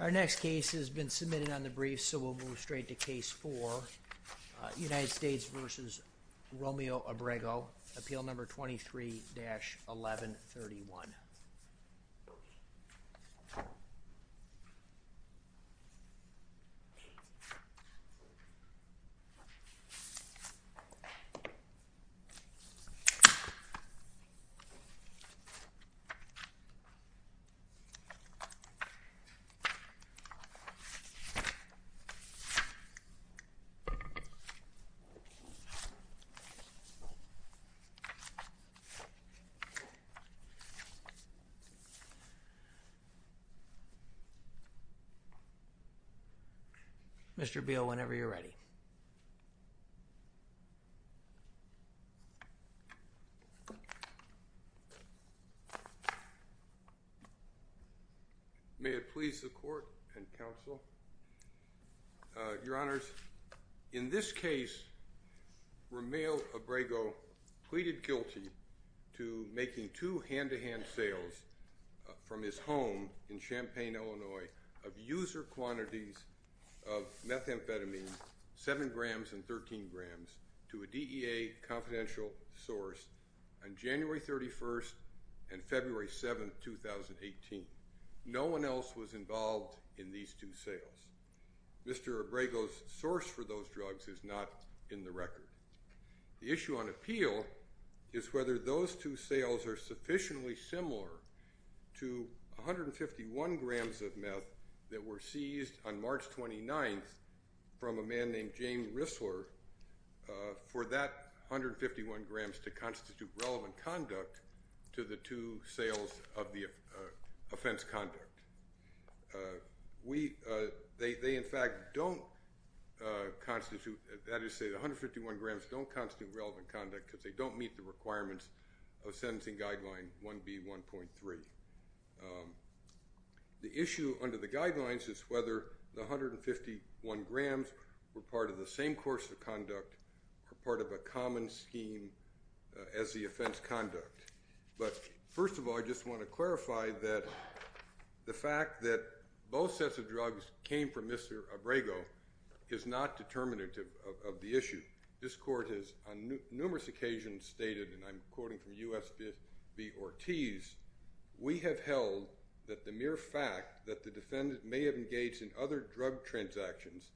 Our next case has been submitted on the brief, so we'll move straight to case 4, United States v. Romeo Abrego, appeal number 23-1131. Mr. Beal, whenever you're ready. May it please the court and counsel. Your Honors, in this case, Romeo Abrego pleaded guilty to making two hand-to-hand sales from his home in Champaign, Illinois, of user quantities of methamphetamine, 7 grams and 13 grams, to a DEA confidential source on January 31st and February 7th, 2018. No one else was involved in these two sales. Mr. Abrego's source for those drugs is not in the record. The issue on appeal is whether those two sales are sufficiently similar to 151 grams of meth that were seized on March 29th from a man named James Rissler for that 151 grams to constitute relevant conduct to the two sales of the offense conduct. They, in fact, don't constitute, that is to say, the 151 grams don't constitute relevant conduct because they don't meet the requirements of sentencing guideline 1B1.3. The issue under the guidelines is whether the 151 grams were part of the same course of conduct or part of a common scheme as the offense conduct. But first of all, I just want to clarify that the fact that both sets of drugs came from Mr. Abrego is not determinative of the issue. This court has on numerous occasions stated, and I'm quoting from U.S.B. Ortiz, we have held that the mere fact that the defendant may have engaged in other drug transactions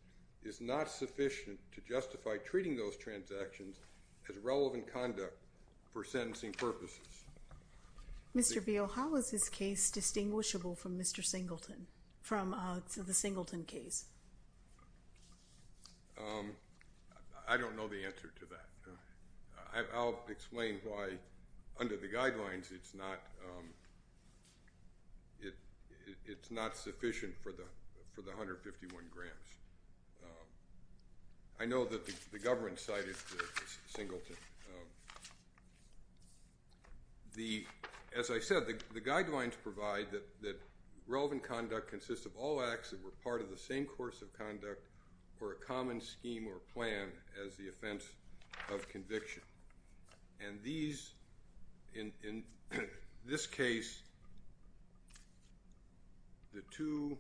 is not sufficient to justify treating those transactions as relevant conduct for sentencing purposes. Mr. Beale, how is this case distinguishable from Mr. Singleton, from the Singleton case? I don't know the answer to that. I'll explain why under the guidelines it's not sufficient for the 151 grams. I know that the government cited Singleton. As I said, the guidelines provide that relevant conduct consists of all acts that were part of the same course of conduct or a common scheme or plan as the offense of conviction. And these, in this case, the two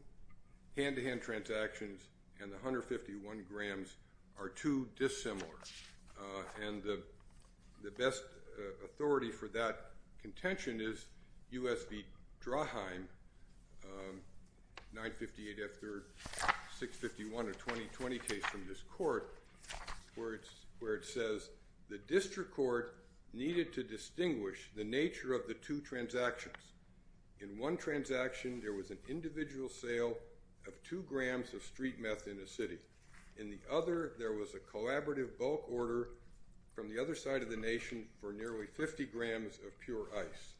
hand-to-hand transactions and the 151 grams are too dissimilar. And the best authority for that contention is U.S.B. Drahheim, 958 F3rd, 651 of 2020 case from this court, where it says the district court needed to distinguish the nature of the two transactions. In one transaction, there was an individual sale of two grams of street meth in a city. In the other, there was a collaborative bulk order from the other side of the nation for nearly 50 grams of pure ice.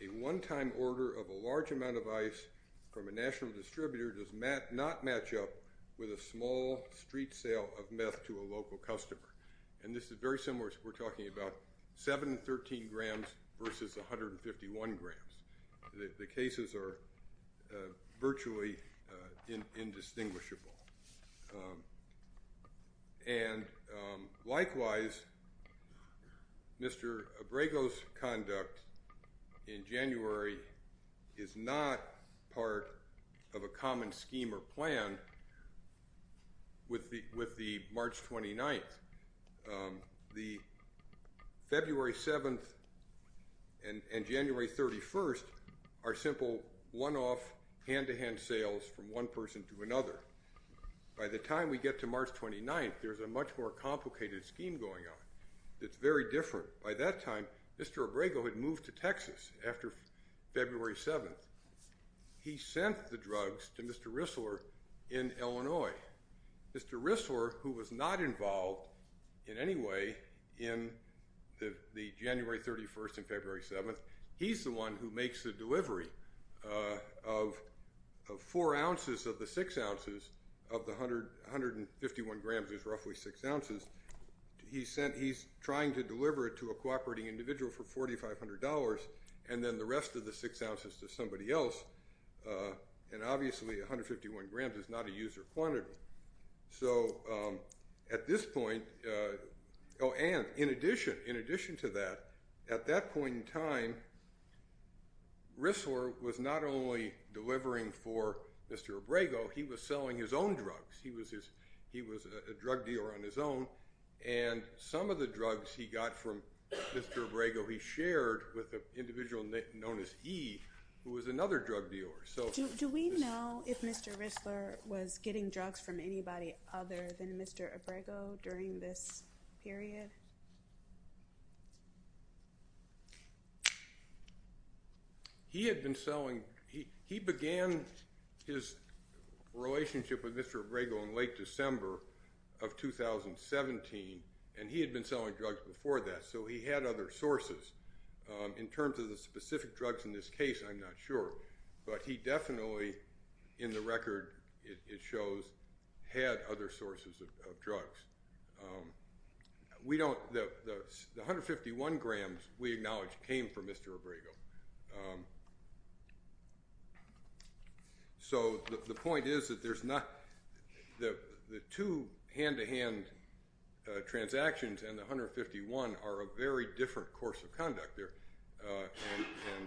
A one-time order of a large amount of ice from a national distributor does not match up with a small street sale of meth to a local customer. And this is very similar to what we're talking about, 713 grams versus 151 grams. The cases are virtually indistinguishable. And likewise, Mr. Abrego's conduct in January is not part of a common scheme or plan with the March 29th. The February 7th and January 31st are simple one-off hand-to-hand sales from one person to another. By the time we get to March 29th, there's a much more complicated scheme going on that's very different. By that time, Mr. Abrego had moved to Texas after February 7th. He sent the drugs to Mr. Rissler in Illinois. Mr. Rissler, who was not involved in any way in the January 31st and February 7th, he's the one who makes the delivery of four ounces of the six ounces of the 151 grams is roughly six ounces. He's trying to deliver it to a cooperating individual for $4,500 and then the rest of the six ounces to somebody else. And obviously 151 grams is not a user quantity. So at this point, oh, and in addition to that, at that point in time, Rissler was not only delivering for Mr. Abrego, he was selling his own drugs. He was a drug dealer on his own, and some of the drugs he got from Mr. Abrego, he shared with an individual known as he, who was another drug dealer. Do we know if Mr. Rissler was getting drugs from anybody other than Mr. Abrego during this period? He had been selling, he began his relationship with Mr. Abrego in late December of 2017, and he had been selling drugs before that. So he had other sources. In terms of the specific drugs in this case, I'm not sure. But he definitely, in the record it shows, had other sources of drugs. We don't, the 151 grams we acknowledge came from Mr. Abrego. So the point is that there's not, the two hand-to-hand transactions and the 151 are a very different course of conduct there, and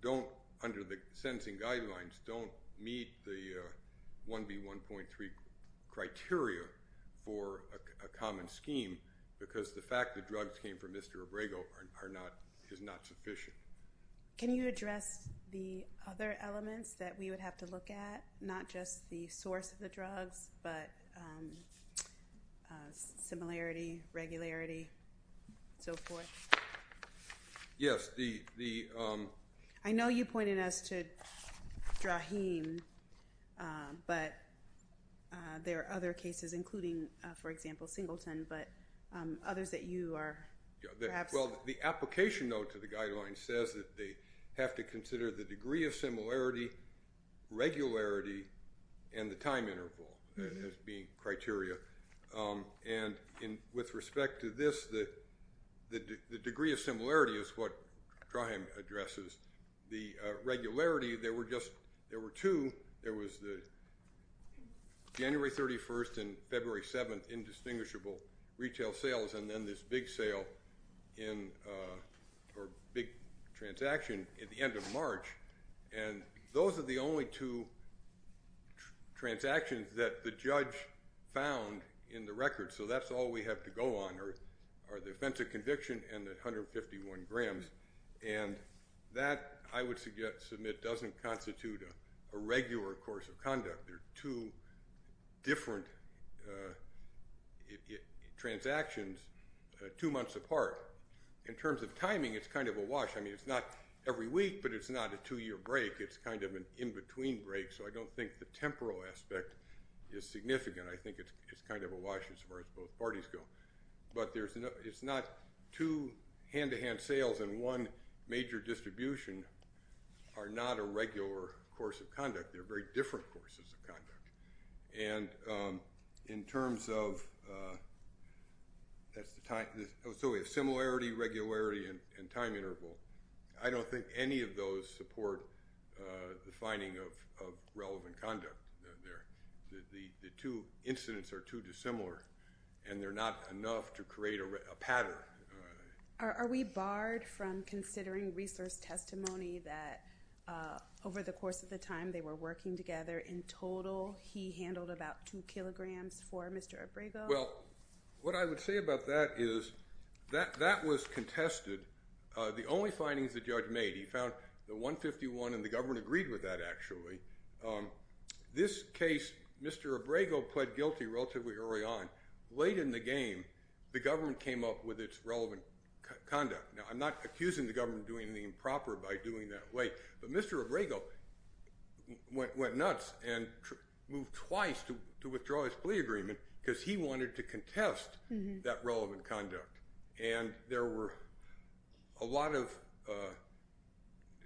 don't, under the sentencing guidelines, don't meet the 1B1.3 criteria for a common scheme, because the fact that drugs came from Mr. Abrego are not, is not sufficient. Can you address the other elements that we would have to look at, not just the source of the drugs, but similarity, regularity, and so forth? Yes. I know you pointed us to Draheem, but there are other cases, including, for example, Singleton, but others that you are perhaps... Well, the application, though, to the guidelines says that they have to consider the degree of similarity, regularity, and the time interval as being criteria. And with respect to this, the degree of similarity is what Draheem addresses. The regularity, there were just, there were two. There was the January 31st and February 7th indistinguishable retail sales, and then this big sale in, or big transaction at the end of March. And those are the only two transactions that the judge found in the record, so that's all we have to go on are the offense of conviction and the 151 grams. And that, I would submit, doesn't constitute a regular course of conduct. They're two different transactions two months apart. In terms of timing, it's kind of a wash. I mean, it's not every week, but it's not a two-year break. It's kind of an in-between break, so I don't think the temporal aspect is significant. I think it's kind of a wash as far as both parties go. But it's not two hand-to-hand sales in one major distribution are not a regular course of conduct. They're very different courses of conduct. And in terms of similarity, regularity, and time interval, I don't think any of those support the finding of relevant conduct there. The two incidents are too dissimilar, and they're not enough to create a pattern. Are we barred from considering resource testimony that over the course of the time they were working together, in total, he handled about two kilograms for Mr. Abrego? Well, what I would say about that is that that was contested. The only findings the judge made, he found the 151, and the government agreed with that, actually. This case, Mr. Abrego pled guilty relatively early on. Late in the game, the government came up with its relevant conduct. Now, I'm not accusing the government of doing anything improper by doing it that way. But Mr. Abrego went nuts and moved twice to withdraw his plea agreement because he wanted to contest that relevant conduct. And there were a lot of,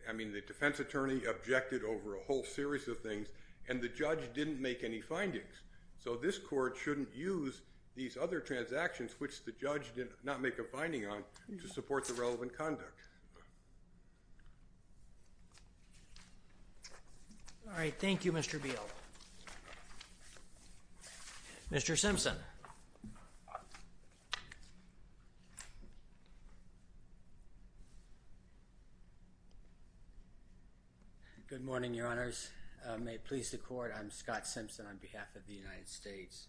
I mean, the defense attorney objected over a whole series of things, and the judge didn't make any findings. So this court shouldn't use these other transactions, which the judge did not make a finding on, to support the relevant conduct. All right. Thank you, Mr. Beal. Mr. Simpson. Good morning, Your Honors. May it please the court, I'm Scott Simpson on behalf of the United States.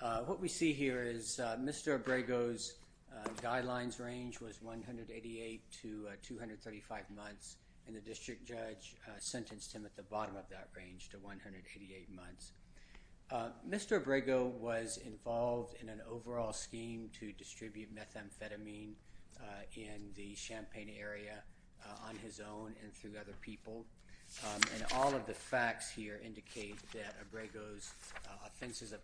What we see here is Mr. Abrego's guidelines range was 188 to 235 months, and the district judge sentenced him at the bottom of that range to 188 months. Mr. Abrego was involved in an overall scheme to distribute methamphetamine in the Champaign area on his own and through other people. And all of the facts here indicate that Abrego's offenses of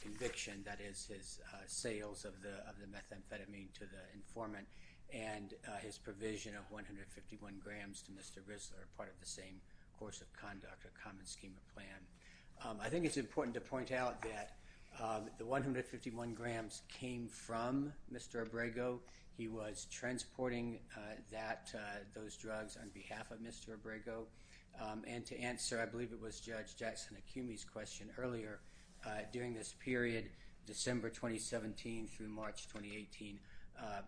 conviction, that is, his sales of the methamphetamine to the informant and his provision of 151 grams to Mr. Risler are part of the same course of conduct, a common scheme of plan. I think it's important to point out that the 151 grams came from Mr. Abrego. He was transporting those drugs on behalf of Mr. Abrego. And to answer, I believe it was Judge Jackson Acumi's question earlier, during this period, December 2017 through March 2018,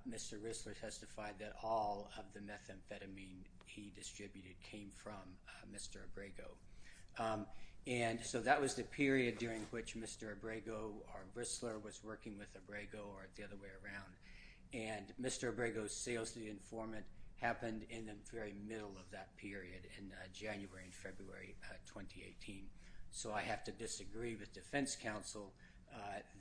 Mr. Risler testified that all of the methamphetamine he distributed came from Mr. Abrego. And so that was the period during which Mr. Abrego or Risler was working with Abrego or the other way around. And Mr. Abrego's sales to the informant happened in the very middle of that period in January and February 2018. So I have to disagree with defense counsel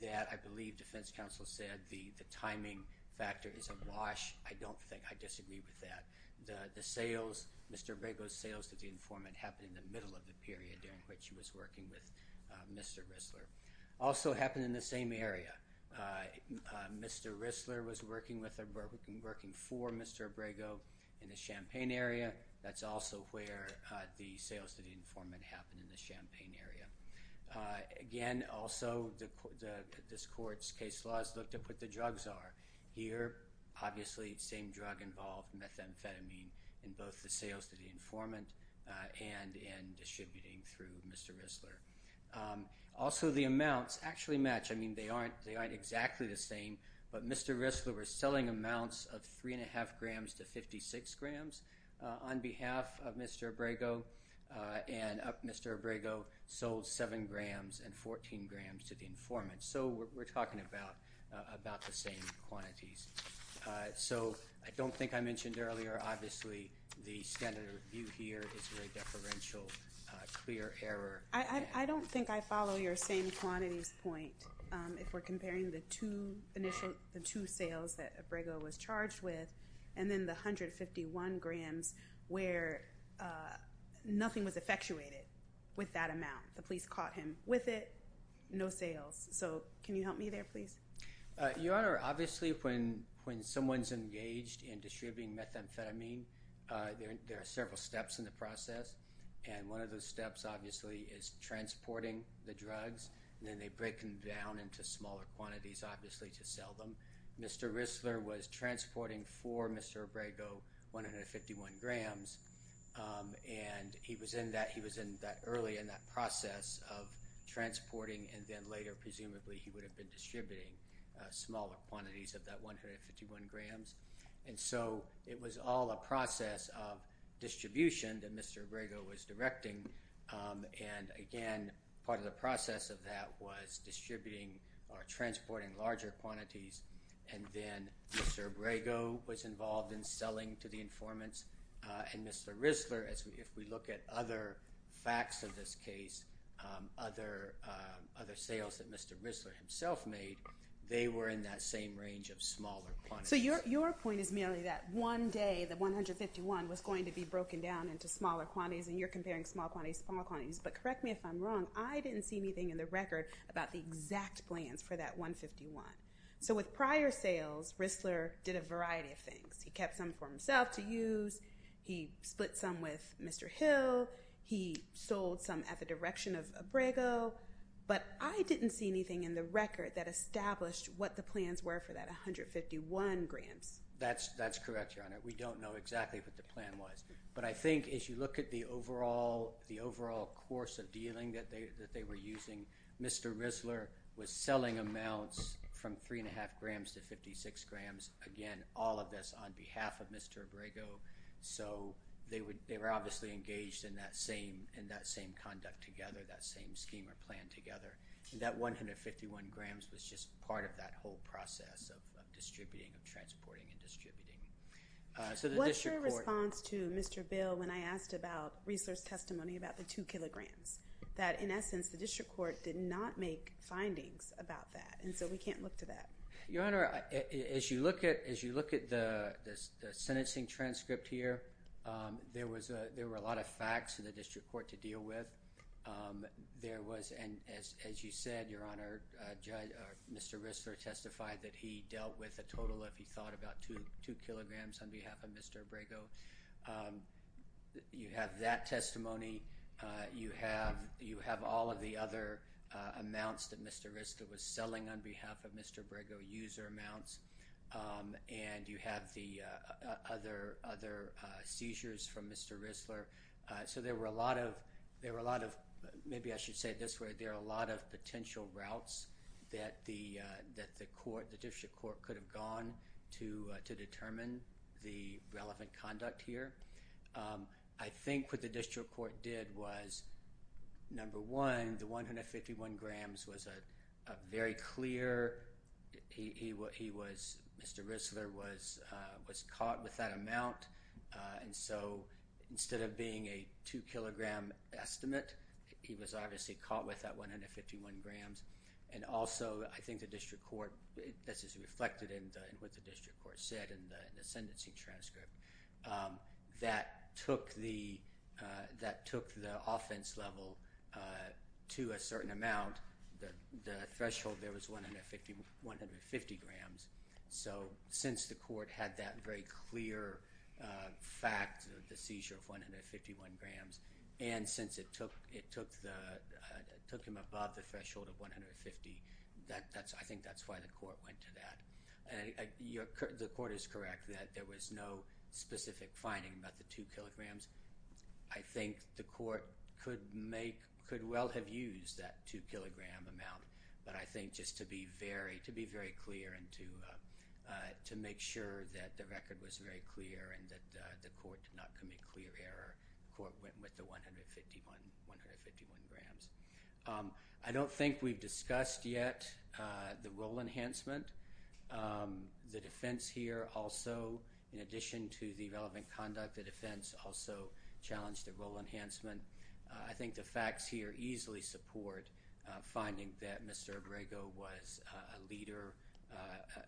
that I believe defense counsel said the timing factor is awash. I don't think I disagree with that. The sales, Mr. Abrego's sales to the informant happened in the middle of the period during which he was working with Mr. Risler. Also happened in the same area. Mr. Risler was working for Mr. Abrego in the Champaign area. That's also where the sales to the informant happened in the Champaign area. Again, also this court's case law has looked at what the drugs are. Here, obviously, same drug involved, methamphetamine, in both the sales to the informant and in distributing through Mr. Risler. Also, the amounts actually match. I mean, they aren't exactly the same, but Mr. Risler was selling amounts of 3.5 grams to 56 grams on behalf of Mr. Abrego. And Mr. Abrego sold 7 grams and 14 grams to the informant. So we're talking about the same quantities. So I don't think I mentioned earlier, obviously, the standard review here is a deferential clear error. I don't think I follow your same quantities point if we're comparing the two initial, the two sales that Abrego was charged with, and then the 151 grams where nothing was effectuated with that amount. The police caught him with it, no sales. So can you help me there, please? Your Honor, obviously, when someone's engaged in distributing methamphetamine, there are several steps in the process. And one of those steps, obviously, is transporting the drugs, and then they break them down into smaller quantities, obviously, to sell them. Mr. Risler was transporting for Mr. Abrego 151 grams, and he was in that early in that process of transporting, and then later, presumably, he would have been distributing smaller quantities of that 151 grams. And so it was all a process of distribution that Mr. Abrego was directing. And again, part of the process of that was distributing or transporting larger quantities, and then Mr. Abrego was involved in selling to the informants. And Mr. Risler, if we look at other facts of this case, other sales that Mr. Risler himself made, they were in that same range of smaller quantities. So your point is merely that one day, the 151 was going to be broken down into smaller quantities, and you're comparing small quantities to small quantities, but correct me if I'm wrong, I didn't see anything in the record about the exact plans for that 151. So with prior sales, Risler did a variety of things. He kept some for himself to use. He split some with Mr. Hill. He sold some at the direction of Abrego. But I didn't see anything in the record that established what the plans were for that 151 grams. That's correct, Your Honor. We don't know exactly what the plan was. But I think as you look at the overall course of dealing that they were using, Mr. Risler was selling amounts from 3.5 grams to 56 grams, again, all of this on behalf of Mr. Abrego. So they were obviously engaged in that same conduct together, that same scheme or plan together. That 151 grams was just part of that whole process of distributing, of transporting and distributing. What's your response to Mr. Bill when I asked about Risler's testimony about the 2 kilograms? That, in essence, the district court did not make findings about that, and so we can't look to that. Your Honor, as you look at the sentencing transcript here, there were a lot of facts for the district court to deal with. And as you said, Your Honor, Mr. Risler testified that he dealt with a total of, he thought, about 2 kilograms on behalf of Mr. Abrego. You have that testimony. You have all of the other amounts that Mr. Risler was selling on behalf of Mr. Abrego, user amounts. And you have the other seizures from Mr. Risler. So there were a lot of, maybe I should say it this way, there were a lot of potential routes that the district court could have gone to determine the relevant conduct here. I think what the district court did was, number one, the 151 grams was a very clear, Mr. Risler was caught with that amount. And so, instead of being a 2 kilogram estimate, he was obviously caught with that 151 grams. And also, I think the district court, this is reflected in what the district court said in the sentencing transcript, that took the offense level to a certain amount. The threshold there was 150 grams. So, since the court had that very clear fact, the seizure of 151 grams, and since it took him above the threshold of 150, I think that's why the court went to that. The court is correct that there was no specific finding about the 2 kilograms. I think the court could well have used that 2 kilogram amount, but I think just to be very clear and to make sure that the record was very clear and that the court did not commit clear error, the court went with the 151 grams. I don't think we've discussed yet the role enhancement. The defense here also, in addition to the relevant conduct, the defense also challenged the role enhancement. I think the facts here easily support finding that Mr. Abrego was a leader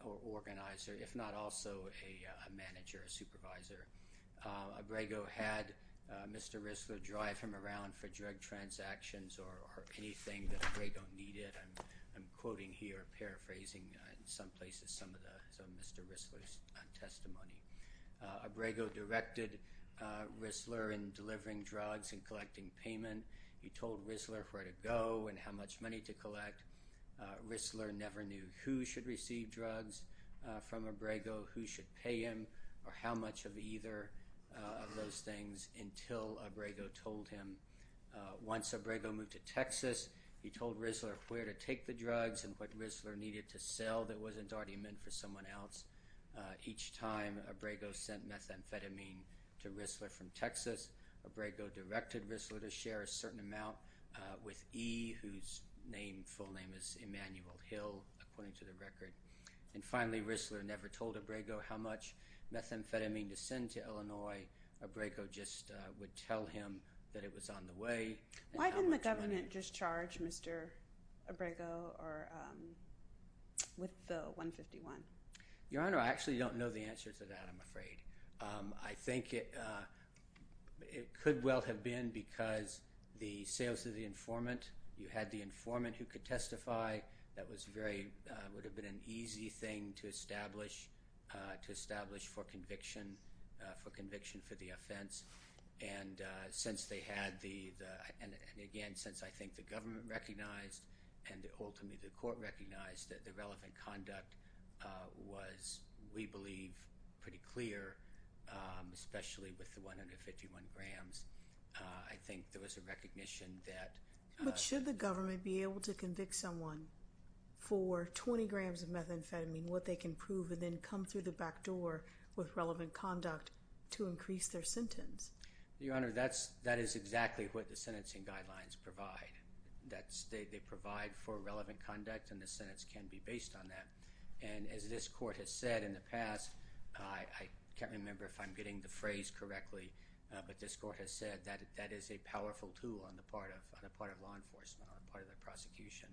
or organizer, if not also a manager or supervisor. Abrego had Mr. Risler drive him around for drug transactions or anything that Abrego needed. I'm quoting here, paraphrasing in some places some of Mr. Risler's testimony. Abrego directed Risler in delivering drugs and collecting payment. He told Risler where to go and how much money to collect. Risler never knew who should receive drugs from Abrego, who should pay him, or how much of either of those things until Abrego told him. Once Abrego moved to Texas, he told Risler where to take the drugs and what Risler needed to sell that wasn't already meant for someone else. Each time Abrego sent methamphetamine to Risler from Texas, Abrego directed Risler to share a certain amount with E, whose full name is Emanuel Hill, according to the record. And finally, Risler never told Abrego how much methamphetamine to send to Illinois. Abrego just would tell him that it was on the way. Why didn't the government just charge Mr. Abrego with the 151? Your Honor, I actually don't know the answer to that, I'm afraid. I think it could well have been because the sales of the informant, you had the informant who could testify, that was very, would have been an easy thing to establish, to establish for conviction, for conviction for the offense. And since they had the, and again, since I think the government recognized and ultimately the court recognized that the relevant conduct was, we believe, pretty clear, especially with the 151 grams, I think there was a recognition that... Your Honor, that's, that is exactly what the sentencing guidelines provide. That's, they provide for relevant conduct and the sentence can be based on that. And as this court has said in the past, I can't remember if I'm getting the phrase correctly, but this court has said that that is a powerful tool on the part of, on the part of law enforcement, on the part of the prosecution.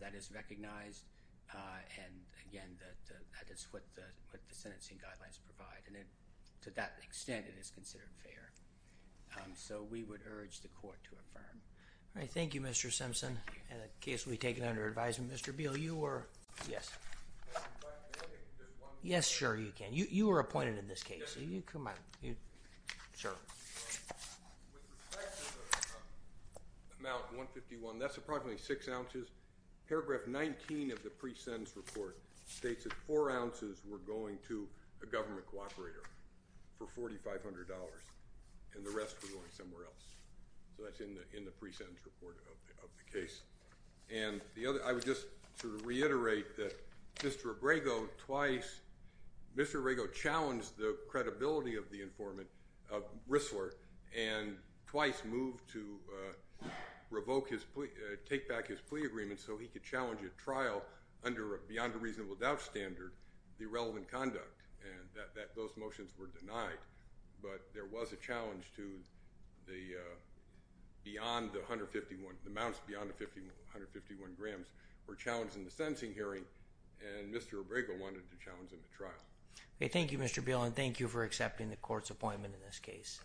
That is recognized. And again, that is what the sentencing guidelines provide. And to that extent, it is considered fair. So we would urge the court to affirm. All right. Thank you, Mr. Simpson. And the case will be taken under advisement. Mr. Beal, you were... Yes. Yes, sure, you can. You were appointed in this case. So you come out. Sure. With respect to the amount 151, that's approximately six ounces. Paragraph 19 of the pre-sentence report states that four ounces were going to a government cooperator for $4,500 and the rest were going somewhere else. So that's in the, in the pre-sentence report of the case. And the other, I would just sort of reiterate that Mr. Abrego twice, Mr. Abrego challenged the credibility of the informant, of Rissler, and twice moved to revoke his plea, take back his plea agreement so he could challenge a trial under a beyond a reasonable doubt standard, the irrelevant conduct. And that those motions were denied. But there was a challenge to the beyond the 151, the amounts beyond the 151 grams were challenged in the sentencing hearing and Mr. Abrego wanted to challenge in the trial. Thank you, Mr. Beal. And thank you for accepting the court's appointment in this case.